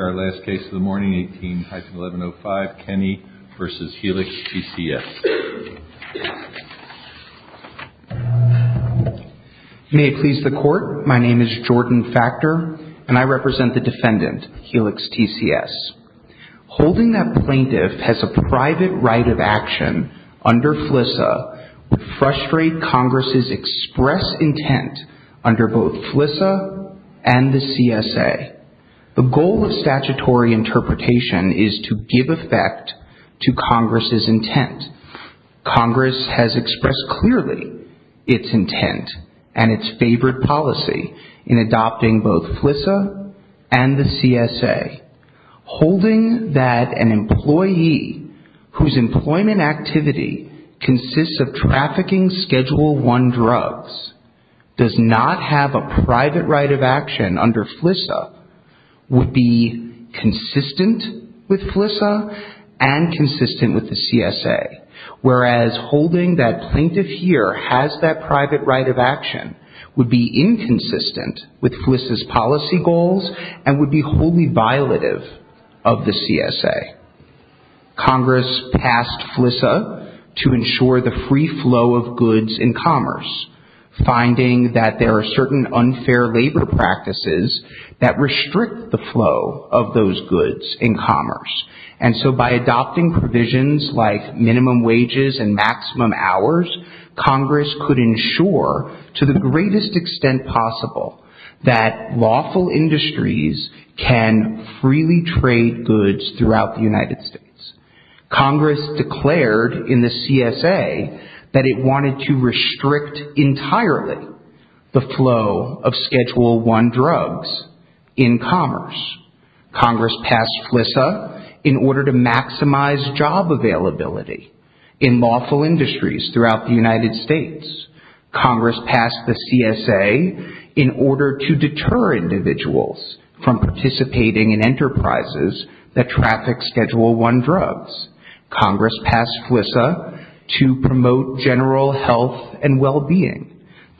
May it please the Court, my name is Jordan Facter and I represent the defendant, Helix TCS. Holding that plaintiff has a private right of action under FLISA would frustrate Congress's express intent under both FLISA and the CSA. The goal of statutory interpretation is to give effect to Congress's intent. Congress has expressed clearly its intent and its favored policy in adopting both FLISA and the CSA. Holding that an employee whose employment activity consists of trafficking Schedule I drugs does not have a private right of action under FLISA would frustrate Congress's express intent under both FLISA and the CSA. Holding that an employee whose employment activity consists of trafficking Schedule I drugs does not have a private right of action under both FLISA and the CSA. Congress's express intent is to restrict the flow of those goods in commerce. And so by adopting provisions like minimum wages and maximum hours, Congress could ensure, to the greatest extent possible, that lawful industries can freely trade goods throughout the United States. Congress declared in the CSA that it wanted to restrict entirely the flow of Schedule I drugs in commerce. Congress passed FLISA in order to maximize job availability in lawful industries throughout the United States. Congress passed the CSA in order to deter individuals from participating in enterprises that traffic Schedule I drugs. Congress passed FLISA to promote general health and well-being.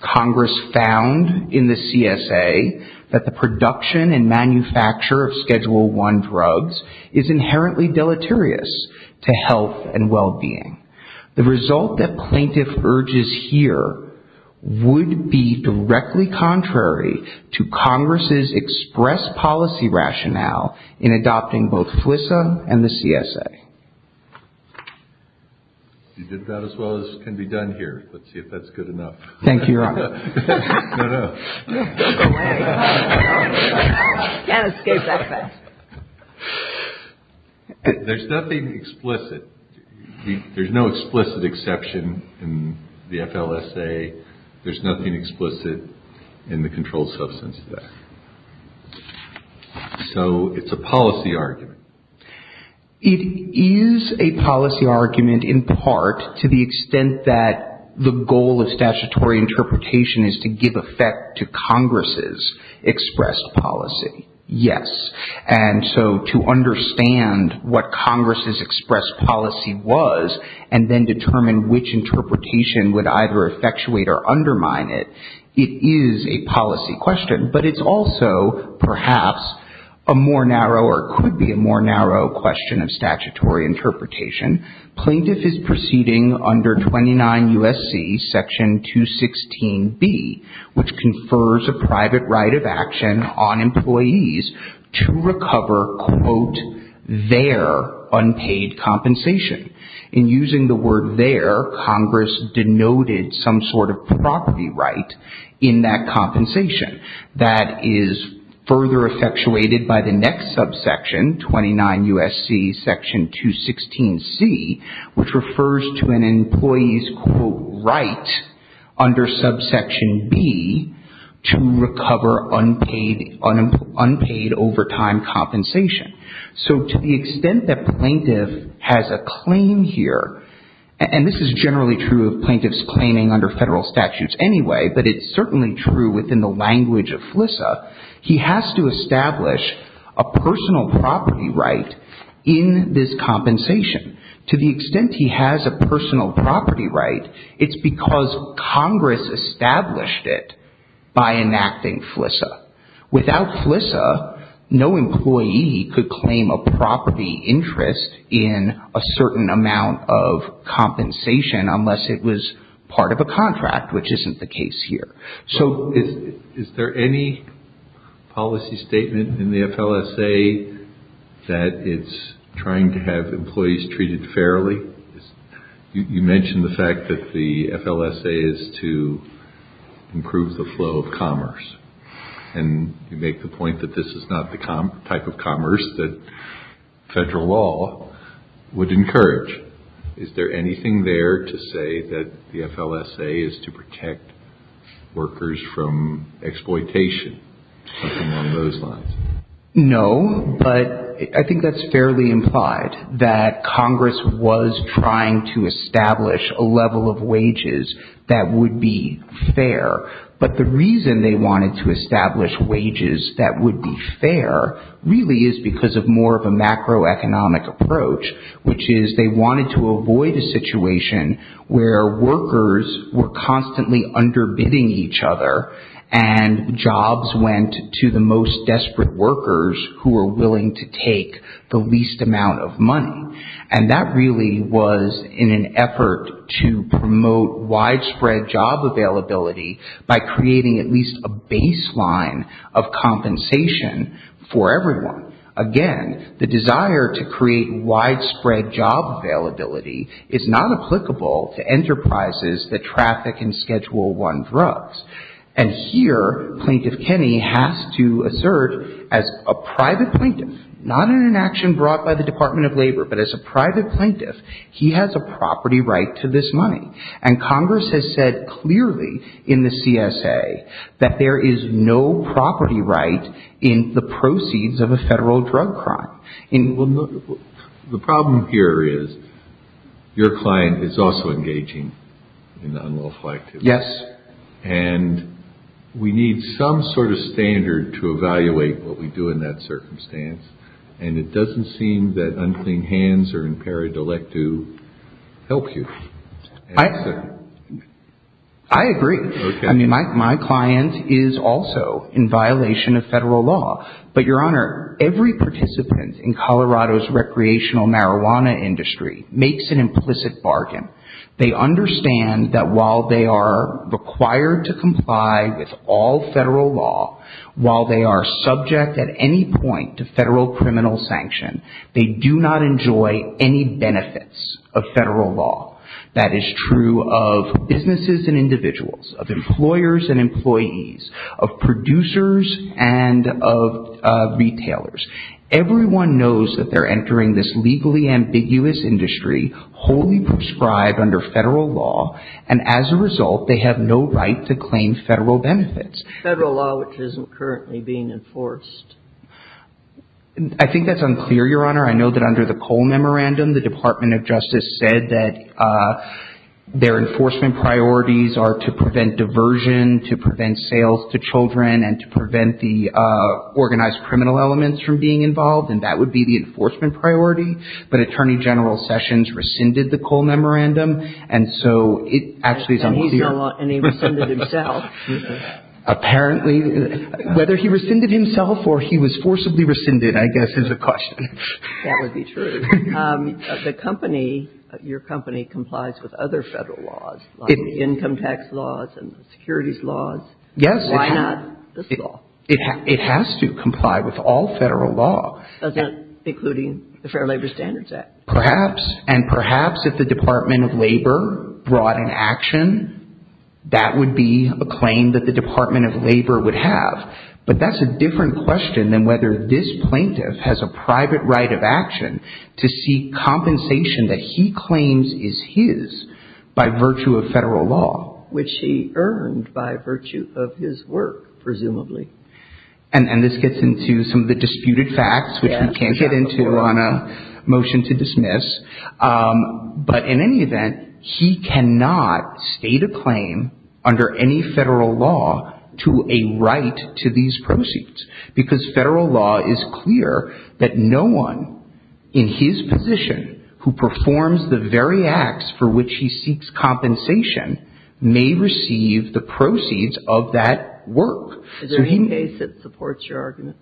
Congress found in the CSA that the production and manufacture of Schedule I drugs is inherently deleterious to health and well-being. The result that plaintiff urges here would be directly contrary to Congress's express policy rationale in adopting both FLISA and the CSA. Congress passed FLISA in order to limit the flow of Schedule I drugs throughout the United States. Is a policy argument, in part, to the extent that the goal of statutory interpretation is to give effect to Congress's expressed policy? Yes. And so to understand what Congress's expressed policy was and then determine which interpretation would either effectuate or undermine it, it is a policy question. But it's also, perhaps, a more narrow or could be a more narrow question of statutory interpretation. Plaintiff is proceeding under 29 U.S.C. Section 216B, which confers a private right of action on employees to recover, quote, their unpaid compensation. In using the word their, Congress denoted some sort of property right in that compensation. That is further effectuated by the next subsection, 29 U.S.C. Section 216B. Which refers to an employee's, quote, right under subsection B to recover unpaid overtime compensation. So to the extent that plaintiff has a claim here, and this is generally true of plaintiff's claiming under federal statutes anyway, but it's certainly true within the language of FLISA, he has to establish a personal property right in this compensation. To the extent he has a personal property right, it's because Congress established it by enacting FLISA. Without FLISA, no employee could claim a property interest in a certain amount of compensation unless it was part of a contract, which isn't the case here. So is there any policy statement in the FLSA that it's trying to have employees recover unpaid overtime compensation? Are employees treated fairly? You mentioned the fact that the FLSA is to improve the flow of commerce. And you make the point that this is not the type of commerce that federal law would encourage. Is there anything there to say that the FLSA is to protect workers from exploitation, among those lines? No, but I think that's fairly implied, that Congress was trying to establish a level of wages that would be fair. But the reason they wanted to establish wages that would be fair really is because of more of a macroeconomic approach, which is they wanted to avoid a situation where workers were constantly underbidding each other, and jobs went to the most desperate workers who were willing to take the least amount of money. And that really was in an effort to promote widespread job availability by creating at least a baseline of compensation for everyone. Again, the desire to create widespread job availability is not applicable to enterprises that traffic in Schedule I drugs. And here, Plaintiff Kenney has to assert as a private plaintiff, not in an action brought by the Department of Labor, but as a private plaintiff, he has a property right to this money. And Congress has said clearly in the CSA that there is no property right in the proceeds of a federal drug crime. The problem here is your client is also engaging in unlawful activity. And we need some sort of standard to evaluate what we do in that circumstance. And it doesn't seem that unclean hands are imperative to help you. I agree. I mean, my client is also in violation of federal law. But, Your Honor, every participant in Colorado's recreational marijuana industry makes an implicit bargain. They understand that while they are required to comply with all federal law, while they are subject at any point to federal criminal sanction, they do not enjoy any benefits of federal law. That is true of businesses and individuals, of employers and employees, of producers and of retailers. Everyone knows that they're entering this legally ambiguous industry, wholly prescribed under federal law, and as a result they have no right to claim federal benefits. Federal law, which isn't currently being enforced. I think that's unclear, Your Honor. I know that under the Cole Memorandum, the Department of Justice said that their enforcement priorities are to prevent diversion, to prevent sales to children, and to prevent the organized criminal elements from being involved. And that would be the enforcement priority. But Attorney General Sessions rescinded the Cole Memorandum, and so it actually is unclear. And he rescinded himself. Apparently. Whether he rescinded himself or he was forcibly rescinded, I guess, is the question. That would be true. The company, your company, complies with other federal laws, like the income tax laws and the securities laws. Yes. Why not this law? It has to comply with all federal law. That's not including the Fair Labor Standards Act. Perhaps. And perhaps if the Department of Labor brought in action, that would be a claim that the Department of Labor would have. But that's a different question than whether this plaintiff has a private right of action to seek compensation that he claims is his by virtue of federal law. Which he earned by virtue of his work, presumably. And this gets into some of the disputed facts, which we can't get into on a motion to dismiss. But in any event, he cannot state a claim under any federal law to a right to these proceeds. Because federal law is clear that no one in his position who performs the very acts for which he seeks compensation may receive the proceeds of that work. Is there any case that supports your argument?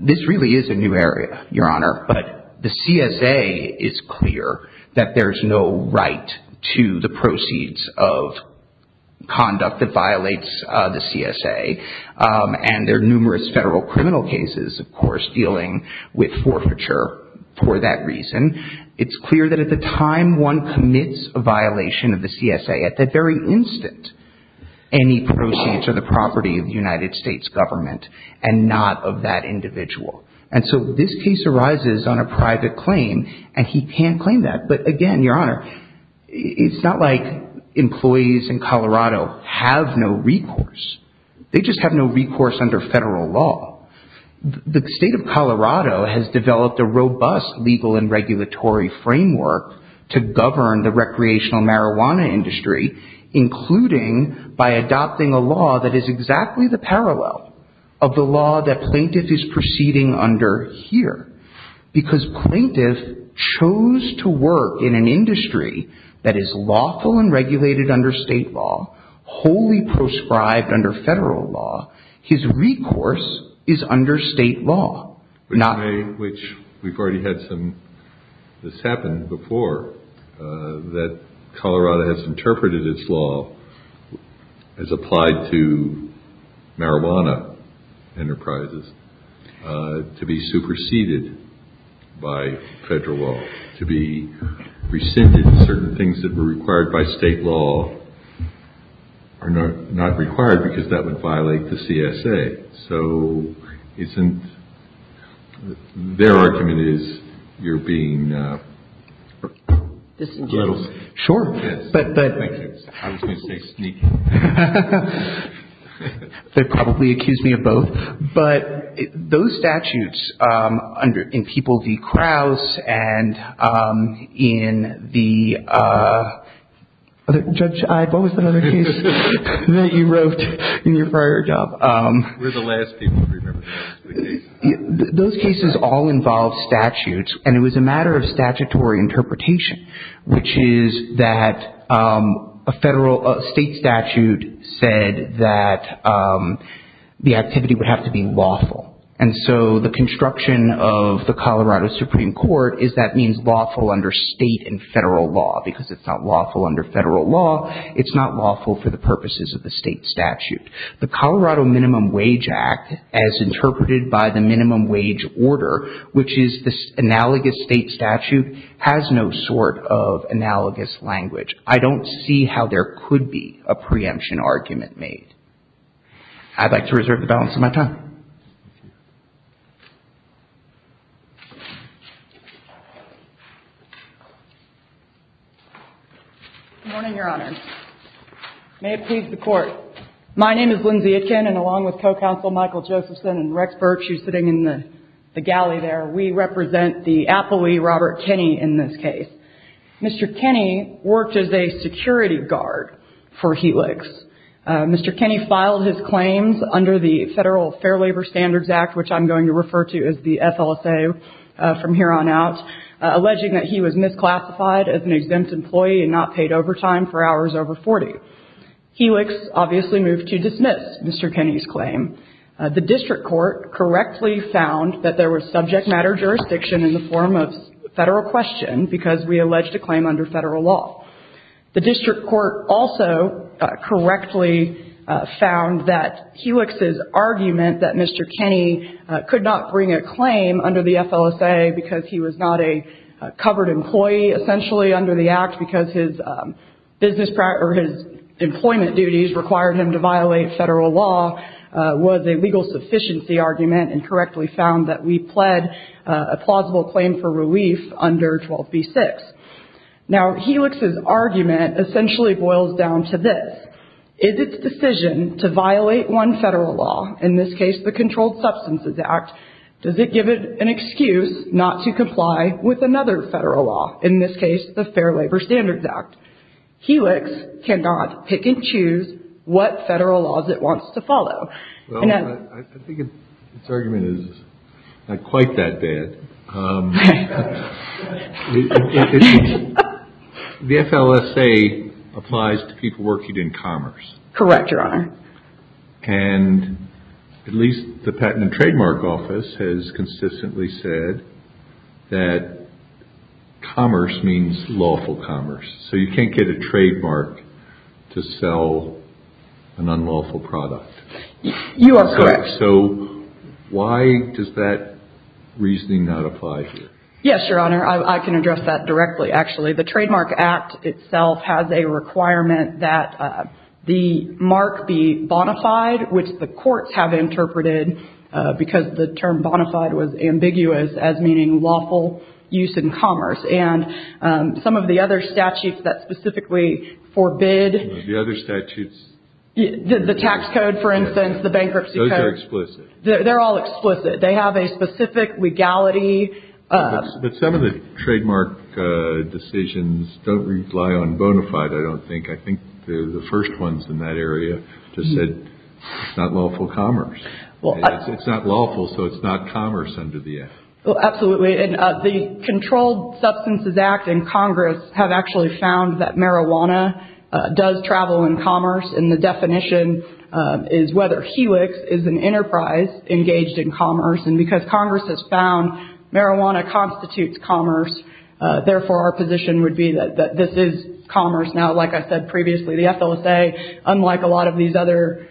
This really is a new area, Your Honor. But the CSA is clear that there's no right to the proceeds of conduct that violates the CSA. And there are numerous federal criminal cases, of course, dealing with forfeiture for that reason. It's clear that at the time one commits a violation of the CSA, at that very instant, any proceeds are the property of the United States government and not of that individual. And so this case arises on a private claim, and he can claim that. But again, Your Honor, it's not like employees in Colorado have no recourse. They just have no recourse under federal law. The state of Colorado has developed a robust legal and regulatory framework to govern the recreational marijuana industry, including by adopting a law that is exactly the parallel of the law that plaintiff is proceeding under here. Because plaintiff chose to work in an industry that is lawful and regulated under state law, wholly proscribed under federal law, his recourse is under state law. Which we've already had some, this happened before, that Colorado has interpreted its law as applied to marijuana enterprises to be superseded by federal law, to be rescinded, certain things that were required by state law are not required because that would violate the CSA. So isn't, their argument is you're being a little sneaky. Sure. I was going to say sneaky. They probably accused me of both. But those statutes under, in People v. Krause and in the, Judge Ide, what was the other case that you wrote in your prior job? We're the last people to remember the case. Those cases all involve statutes, and it was a matter of statutory interpretation, which is that a federal, a state statute said that the activity would have to be lawful. And so the construction of the Colorado Supreme Court is that means lawful under state and federal law, because it's not lawful under federal law, it's not lawful for the purposes of the state statute. The Colorado Minimum Wage Act, as interpreted by the minimum wage order, which is this analogous state statute, has no sort of analogous language. I don't see how there could be a preemption argument made. I'd like to reserve the balance of my time. Good morning, Your Honor. May it please the Court. My name is Lindsay Aitken, and along with Co-Counsel Michael Josephson and Rex Burke, she's sitting in the galley there, we represent the appellee Robert Kenney in this case. Mr. Kenney worked as a security guard for Helix. Mr. Kenney filed his claims under the Federal Fair Labor Standards Act, which I'm going to refer to as the FLSA from here on out, alleging that he was misclassified as an exempt employee and not paid overtime for hours over 40. Helix obviously moved to dismiss Mr. Kenney's claim. The district court correctly found that there was subject matter jurisdiction in the form of federal question, because we alleged a claim under federal law. The district court also correctly found that Helix's argument that Mr. Kenney could not bring a claim under the FLSA because he was not a covered employee essentially under the Act, because his employment duties required him to violate federal law, was a legal sufficiency argument and correctly found that we pled a plausible claim for relief under 12b-6. Now, Helix's argument essentially boils down to this. Is its decision to violate one federal law, in this case the Controlled Substances Act, does it give it an excuse not to comply with another federal law, in this case the Fair Labor Standards Act? Helix cannot pick and choose what federal laws it wants to follow. Well, I think its argument is not quite that bad. The FLSA applies to people working in commerce. Correct, Your Honor. And at least the Patent and Trademark Office has consistently said that commerce means lawful commerce. So you can't get a trademark to sell an unlawful product. You are correct. So why does that reasoning not apply here? Yes, Your Honor. I can address that directly, actually. The Trademark Act itself has a requirement that the mark be bonafide, which the courts have interpreted because the term bonafide was ambiguous as meaning lawful use in commerce. And some of the other statutes that specifically forbid The other statutes. The tax code, for instance, the bankruptcy code. Those are explicit. They're all explicit. They have a specific legality. But some of the trademark decisions don't rely on bonafide, I don't think. I think the first ones in that area just said it's not lawful commerce. It's not lawful, so it's not commerce under the F. Absolutely. And the Controlled Substances Act and Congress have actually found that marijuana does travel in commerce. And the definition is whether Helix is an enterprise engaged in commerce. And because Congress has found marijuana constitutes commerce, therefore our position would be that this is commerce. Now, like I said previously, the FLSA, unlike a lot of these other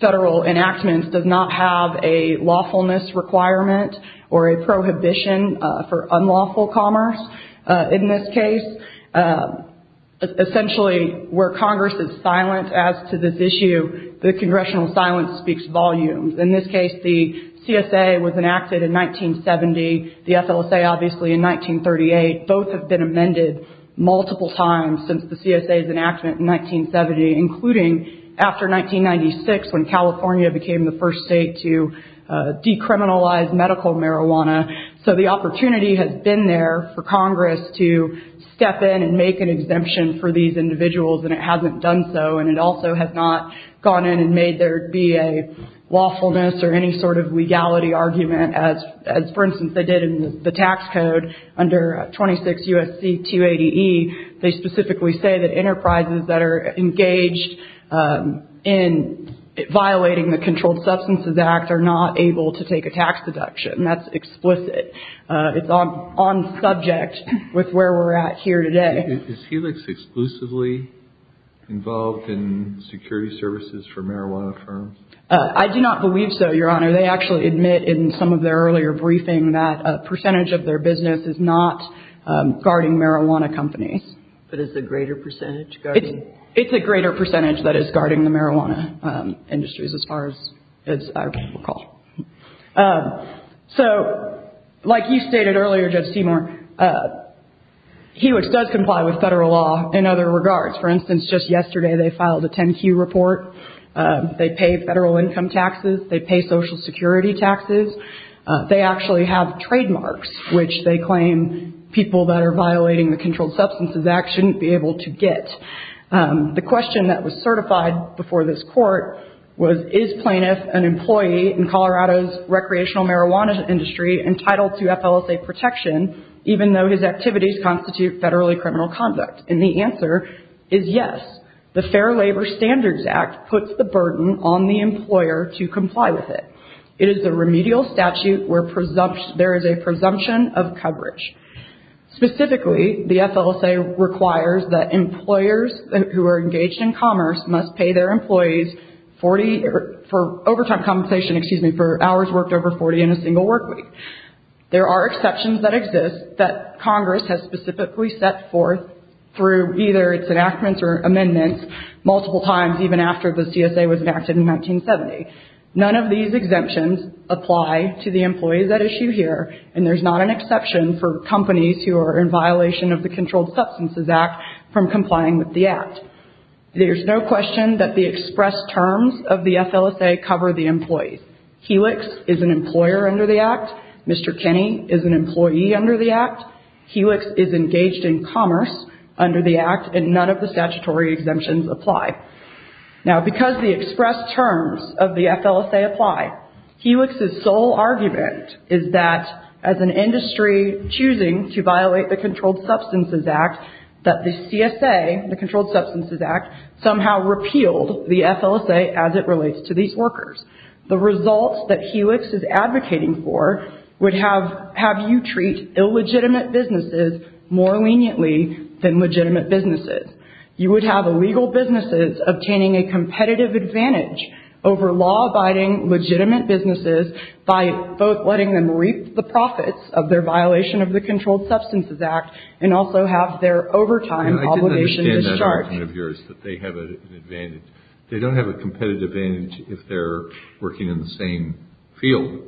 federal enactments, does not have a lawfulness requirement or a prohibition for unlawful commerce in this case. Essentially, where Congress is silent as to this issue, the congressional silence speaks volumes. In this case, the CSA was enacted in 1970. The FLSA, obviously, in 1938. Both have been amended multiple times since the CSA's enactment in 1970, including after 1996 when California became the first state to decriminalize medical marijuana. So the opportunity has been there for Congress to step in and make an exemption for these individuals, and it hasn't done so. And it also has not gone in and made there be a lawfulness or any sort of legality argument as, for instance, they did in the tax code under 26 U.S.C. 280E. They specifically say that enterprises that are engaged in violating the Controlled Substances Act are not able to take a tax deduction. That's explicit. It's on subject with where we're at here today. Is there a greater percentage in security services for marijuana firms? I do not believe so, Your Honor. They actually admit in some of their earlier briefing that a percentage of their business is not guarding marijuana companies. But is the greater percentage guarding? It's a greater percentage that is guarding the marijuana industries, as far as I recall. So, like you stated earlier, Judge Seymour, Hewitt does comply with federal law in other regards. For instance, just yesterday they filed a 10-Q report. They pay federal income taxes. They pay Social Security taxes. They actually have trademarks, which they claim people that are violating the Controlled Substances Act shouldn't be able to get. The question that was certified before this court was, Is plaintiff an employee in Colorado's recreational marijuana industry entitled to FLSA protection even though his activities constitute federally criminal conduct? And the answer is yes. The Fair Labor Standards Act puts the burden on the employer to comply with it. It is the remedial statute where there is a presumption of coverage. Specifically, the FLSA requires that employers who are engaged in commerce must pay their employees for overtime compensation, excuse me, for hours worked over 40 in a single work week. There are exceptions that exist that Congress has specifically set forth through either its enactments or amendments multiple times even after the CSA was enacted in 1970. None of these exemptions apply to the employees at issue here, and there's not an exception for companies who are in violation of the Controlled Substances Act from complying with the Act. There's no question that the express terms of the FLSA cover the employees. Helix is an employer under the Act. Mr. Kenney is an employee under the Act. Helix is engaged in commerce under the Act, and none of the statutory exemptions apply. Now, because the express terms of the FLSA apply, Helix's sole argument is that as an industry choosing to violate the Controlled Substances Act, that the CSA, the Controlled Substances Act, somehow repealed the FLSA as it relates to these workers. The results that Helix is advocating for would have you treat illegitimate businesses more leniently than legitimate businesses. You would have illegal businesses obtaining a competitive advantage over law-abiding legitimate businesses by both letting them reap the profits of their violation of the Controlled Substances Act and also have their overtime obligation discharged. They don't have a competitive advantage if they're working in the same field.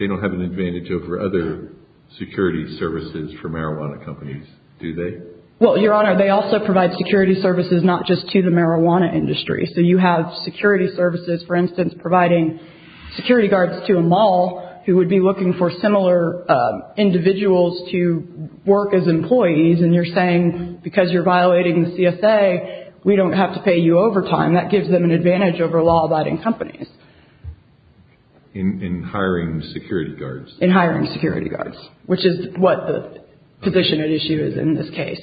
They don't have an advantage over other security services for marijuana companies, do they? Well, Your Honor, they also provide security services not just to the marijuana industry. So you have security services, for instance, providing security guards to a mall who would be looking for similar individuals to work as employees, and you're saying because you're violating the CSA, we don't have to pay you overtime. That gives them an advantage over law-abiding companies. In hiring security guards. In hiring security guards, which is what the position at issue is in this case.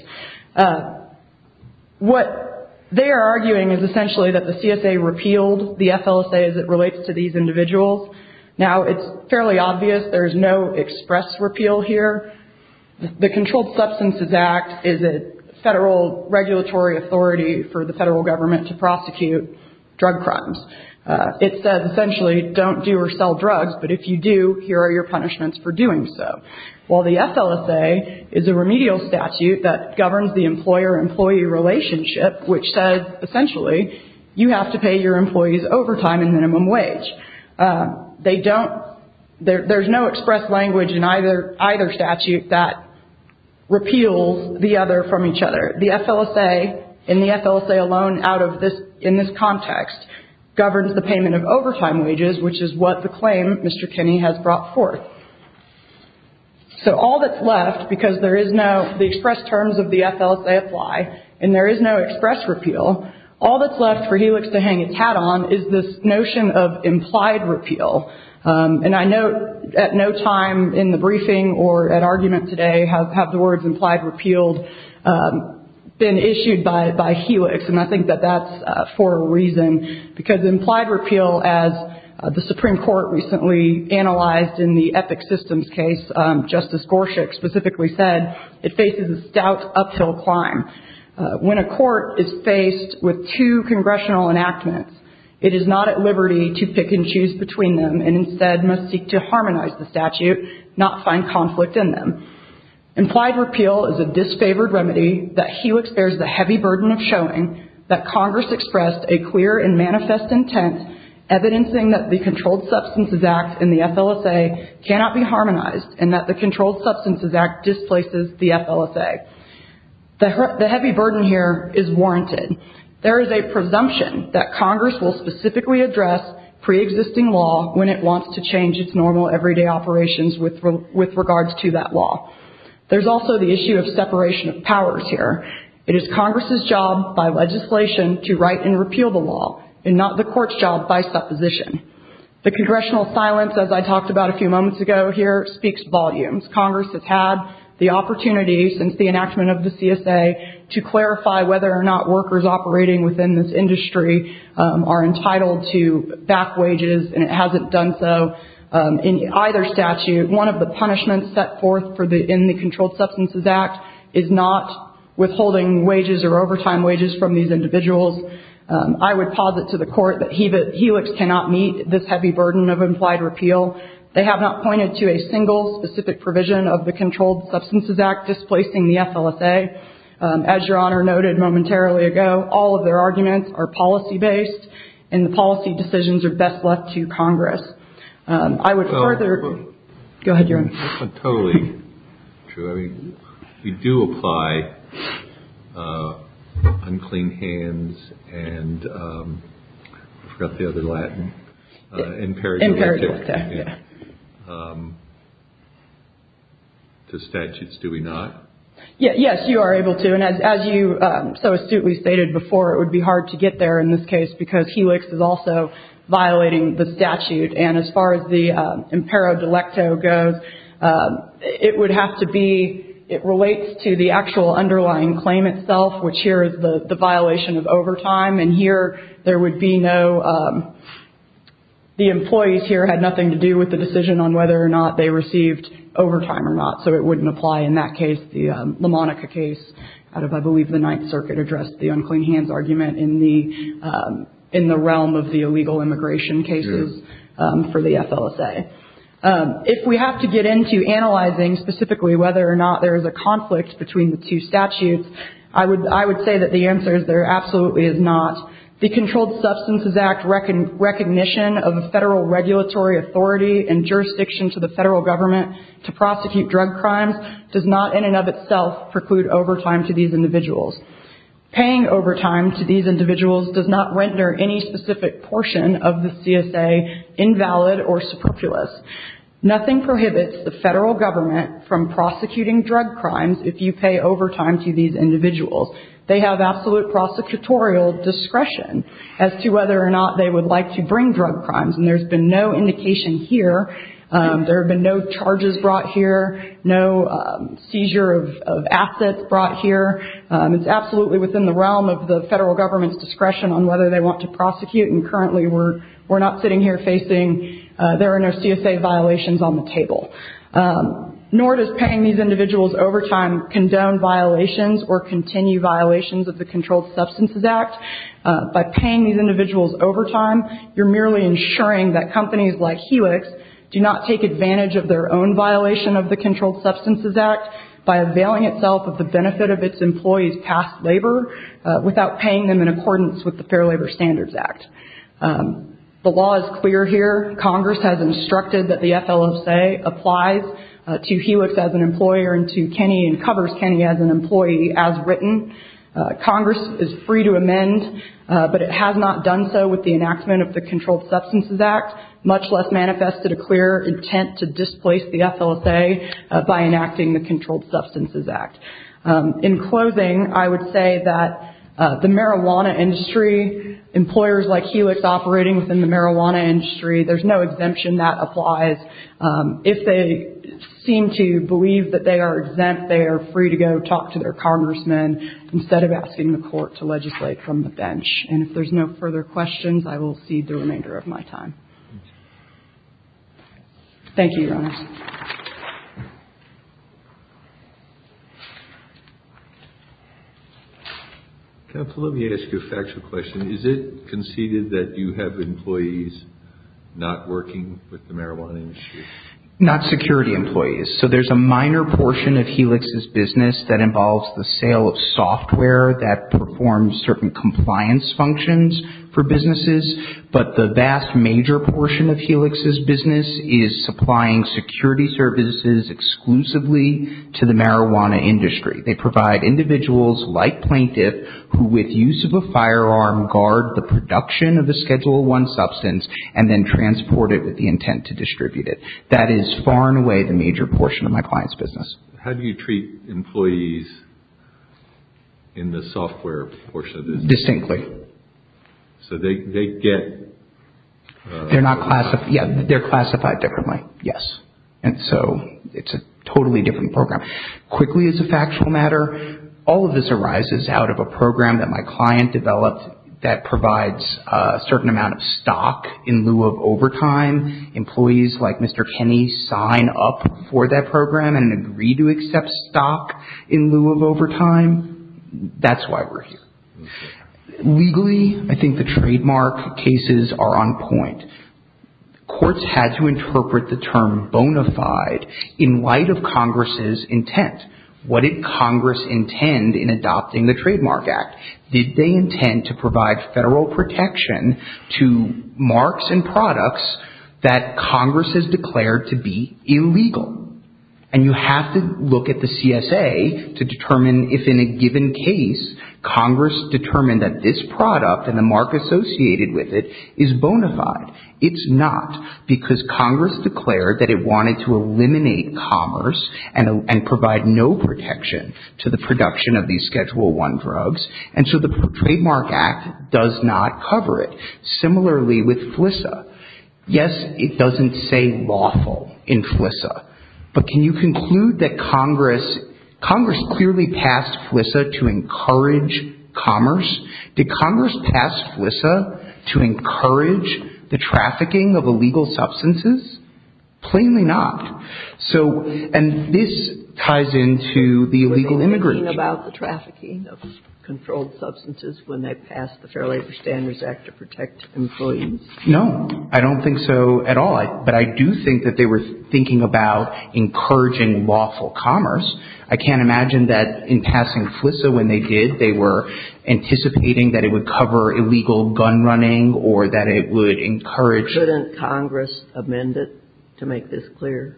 What they are arguing is essentially that the CSA repealed the FLSA as it relates to these individuals. Now, it's fairly obvious there is no express repeal here. The Controlled Substances Act is a federal regulatory authority for the federal government to prosecute drug crimes. It says, essentially, don't do or sell drugs, but if you do, here are your punishments for doing so. While the FLSA is a remedial statute that governs the employer-employee relationship, which says, essentially, you have to pay your employees overtime and minimum wage. They don't, there's no express language in either statute that repeals the other from each other. The FLSA, in the FLSA alone, out of this, in this context, governs the payment of overtime wages, which is what the claim Mr. Kinney has brought forth. So, all that's left, because there is no, the express terms of the FLSA apply, and there is no express repeal, all that's left for Helix to hang its hat on is this notion of implied repeal. And I know at no time in the briefing or at argument today have the words implied repealed been issued by Helix, and I think that that's for a reason, because implied repeal, as the Supreme Court recently analyzed in the Epic Systems case, Justice Gorsuch specifically said, it faces a stout uphill climb. When a court is faced with two congressional enactments, it is not at liberty to pick and choose between them, and instead must seek to harmonize the statute, not find conflict in them. Implied repeal is a disfavored remedy that Helix bears the heavy burden of showing that Congress expressed a clear and manifest intent evidencing that the Controlled Substances Act and the FLSA cannot be harmonized and that the Controlled Substances Act displaces the FLSA. The heavy burden here is warranted. There is a presumption that Congress will specifically address pre-existing law when it wants to change its normal everyday operations with regards to that law. There's also the issue of separation of powers here. It is Congress's job by legislation to write and repeal the law, and not the Court's job by supposition. The congressional silence, as I talked about a few moments ago here, speaks volumes. Congress has had the opportunity since the enactment of the CSA to clarify whether or not workers operating within this industry are entitled to back wages, and it hasn't done so in either statute. One of the punishments set forth in the Controlled Substances Act is not withholding wages or overtime wages from these individuals. I would posit to the Court that Helix cannot meet this heavy burden of implied repeal. They have not pointed to a single specific provision of the Controlled Substances Act displacing the FLSA. As Your Honor noted momentarily ago, all of their arguments are policy-based, and the policy decisions are best left to Congress. That's not totally true. I mean, we do apply unclean hands and, I forgot the other Latin, imperio delecto. Imperio delecto, yeah. To statutes, do we not? Yes, you are able to. And as you so astutely stated before, it would be hard to get there in this case because Helix is also violating the statute. And as far as the imperio delecto goes, it would have to be, it relates to the actual underlying claim itself, which here is the violation of overtime. And here there would be no, the employees here had nothing to do with the decision on whether or not they received overtime or not. So it wouldn't apply in that case, the LaMonica case. I believe the Ninth Circuit addressed the unclean hands argument in the realm of the illegal immigration cases. For the FLSA. If we have to get into analyzing specifically whether or not there is a conflict between the two statutes, I would say that the answer is there absolutely is not. The Controlled Substances Act recognition of a federal regulatory authority and jurisdiction to the federal government to prosecute drug crimes does not in and of itself preclude overtime to these individuals. Paying overtime to these individuals does not render any specific portion of the CSA invalid or superfluous. Nothing prohibits the federal government from prosecuting drug crimes if you pay overtime to these individuals. They have absolute prosecutorial discretion as to whether or not they would like to bring drug crimes. And there's been no indication here. There have been no charges brought here, no seizure of assets brought here. It's absolutely within the realm of the federal government's discretion on whether they want to prosecute. And currently we're not sitting here facing, there are no CSA violations on the table. Nor does paying these individuals overtime condone violations or continue violations of the Controlled Substances Act. By paying these individuals overtime, you're merely ensuring that companies like Helix do not take advantage of their own violation of the Controlled Substances Act by availing itself of the benefit of its employees' past labor without paying them in accordance with the Fair Labor Standards Act. The law is clear here. Congress has instructed that the FLSA applies to Helix as an employer and to Kenny and covers Kenny as an employee as written. Congress is free to amend, but it has not done so with the enactment of the Controlled Substances Act, much less manifested a clear intent to displace the FLSA by enacting the Controlled Substances Act. In closing, I would say that the marijuana industry, employers like Helix operating within the marijuana industry, there's no exemption that applies. If they seem to believe that they are exempt, they are free to go talk to their congressmen instead of asking the court to legislate from the bench. And if there's no further questions, I will cede the remainder of my time. Thank you, Your Honor. Let me ask you a factual question. Is it conceded that you have employees not working with the marijuana industry? Not security employees. So there's a minor portion of Helix's business that involves the sale of software that performs certain compliance functions for businesses, but the vast major portion of Helix's business is supplying security services exclusively to the marijuana industry. They provide individuals like plaintiff who, with use of a firearm, guard the production of a Schedule I substance and then transport it with the intent to distribute it. That is far and away the major portion of my client's business. How do you treat employees in the software portion of the business? Distinctly. So they get... They're classified differently, yes. And so it's a totally different program. Quickly, as a factual matter, all of this arises out of a program that my client developed that provides a certain amount of stock in lieu of overtime. Employees like Mr. Kenny sign up for that program and agree to accept stock in lieu of overtime. That's why we're here. Legally, I think the trademark cases are on point. Courts had to interpret the term bona fide in light of Congress's intent. What did Congress intend in adopting the Trademark Act? Did they intend to provide federal protection to marks and products that Congress has declared to be illegal? And you have to look at the CSA to determine if, in a given case, Congress determined that this product and the mark associated with it is bona fide. It's not because Congress declared that it wanted to eliminate commerce and provide no protection to the production of these Schedule I drugs and so the Trademark Act does not cover it. Similarly with FLISA. Yes, it doesn't say lawful in FLISA, but can you conclude that Congress clearly passed FLISA to encourage commerce? Did Congress pass FLISA to encourage the trafficking of illegal substances? Plainly not. And this ties into the illegal immigration. Were they thinking about the trafficking of controlled substances when they passed the Fair Labor Standards Act to protect employees? No. I don't think so at all. But I do think that they were thinking about encouraging lawful commerce. I can't imagine that in passing FLISA when they did, they were anticipating that it would cover illegal gun running or that it would encourage. Couldn't Congress amend it to make this clear?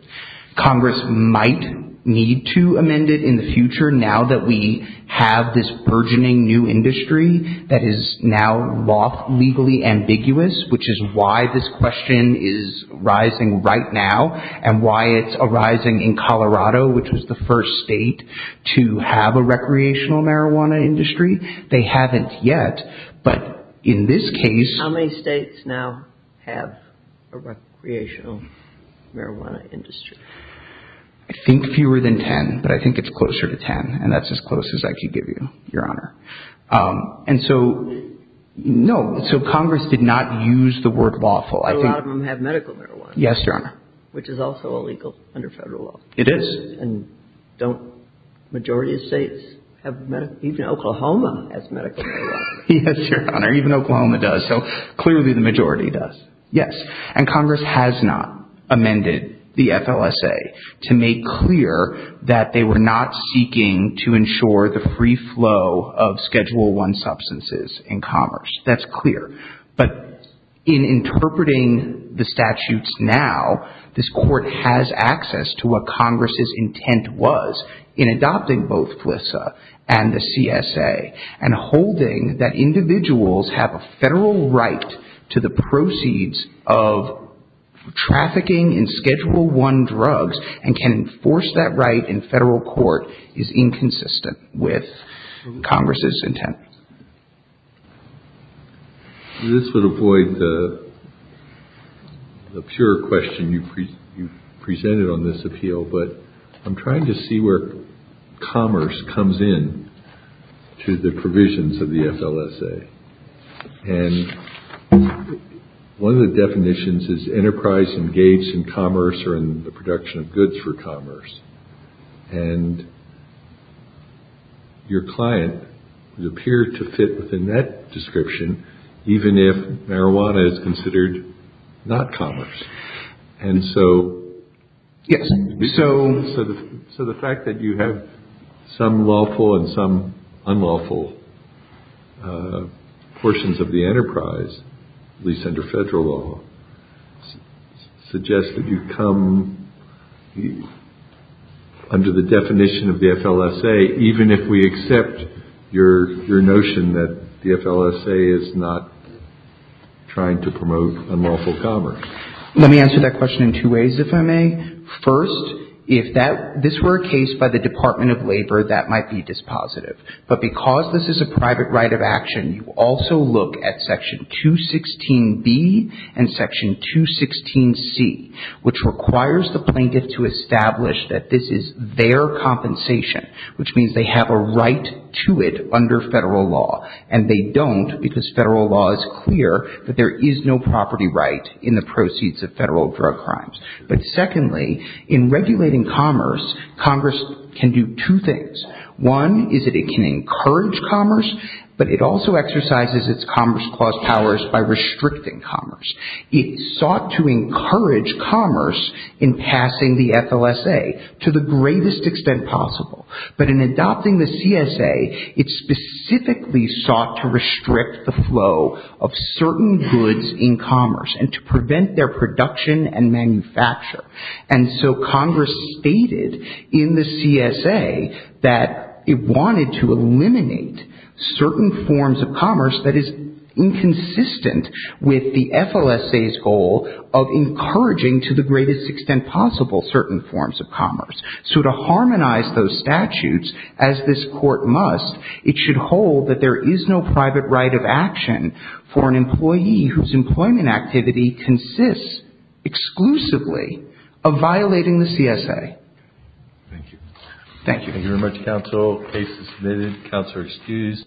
Congress might need to amend it in the future now that we have this burgeoning new industry that is now lawfully ambiguous, which is why this question is rising right now and why it's arising in Colorado, which was the first state to have a recreational marijuana industry. They haven't yet, but in this case. How many states now have a recreational marijuana industry? I think fewer than 10, but I think it's closer to 10, and that's as close as I can give you, Your Honor. And so, no, so Congress did not use the word lawful. But a lot of them have medical marijuana. Yes, Your Honor. Which is also illegal under federal law. It is. And don't majority of states have medical, even Oklahoma has medical marijuana. Yes, Your Honor. Even Oklahoma does, so clearly the majority does. Yes, and Congress has not amended the FLSA to make clear that they were not seeking to ensure the free flow of Schedule I substances in commerce. That's clear. But in interpreting the statutes now, this Court has access to what Congress's intent was in adopting both FLSA and the CSA and holding that individuals have a federal right to the proceeds of trafficking in Schedule I drugs and can enforce that right in federal court is inconsistent with Congress's intent. This would avoid the pure question you presented on this appeal, but I'm trying to see where commerce comes in to the provisions of the FLSA. And one of the definitions is enterprise engaged in commerce or in the production of goods for commerce. And your client would appear to fit within that description, even if marijuana is considered not commerce. So the fact that you have some lawful and some unlawful portions of the enterprise, at least under federal law, suggests that you come under the definition of the FLSA Let me answer that question in two ways, if I may. First, if this were a case by the Department of Labor, that might be dispositive. But because this is a private right of action, you also look at Section 216B and Section 216C, which requires the plaintiff to establish that this is their compensation, which means they have a right to it under federal law. And they don't because federal law is clear that there is no property right in the proceeds of federal drug crimes. But secondly, in regulating commerce, Congress can do two things. One is that it can encourage commerce, but it also exercises its Commerce Clause powers by restricting commerce. It sought to encourage commerce in passing the FLSA to the greatest extent possible. But in adopting the CSA, it specifically sought to restrict the flow of certain goods in commerce and to prevent their production and manufacture. And so Congress stated in the CSA that it wanted to eliminate certain forms of commerce that is inconsistent with the FLSA's goal of encouraging, to the greatest extent possible, certain forms of commerce. So to harmonize those statutes, as this Court must, it should hold that there is no private right of action for an employee whose employment activity consists exclusively of violating the CSA. Thank you. Thank you. Thank you very much, counsel. Case is submitted. Counsel is excused.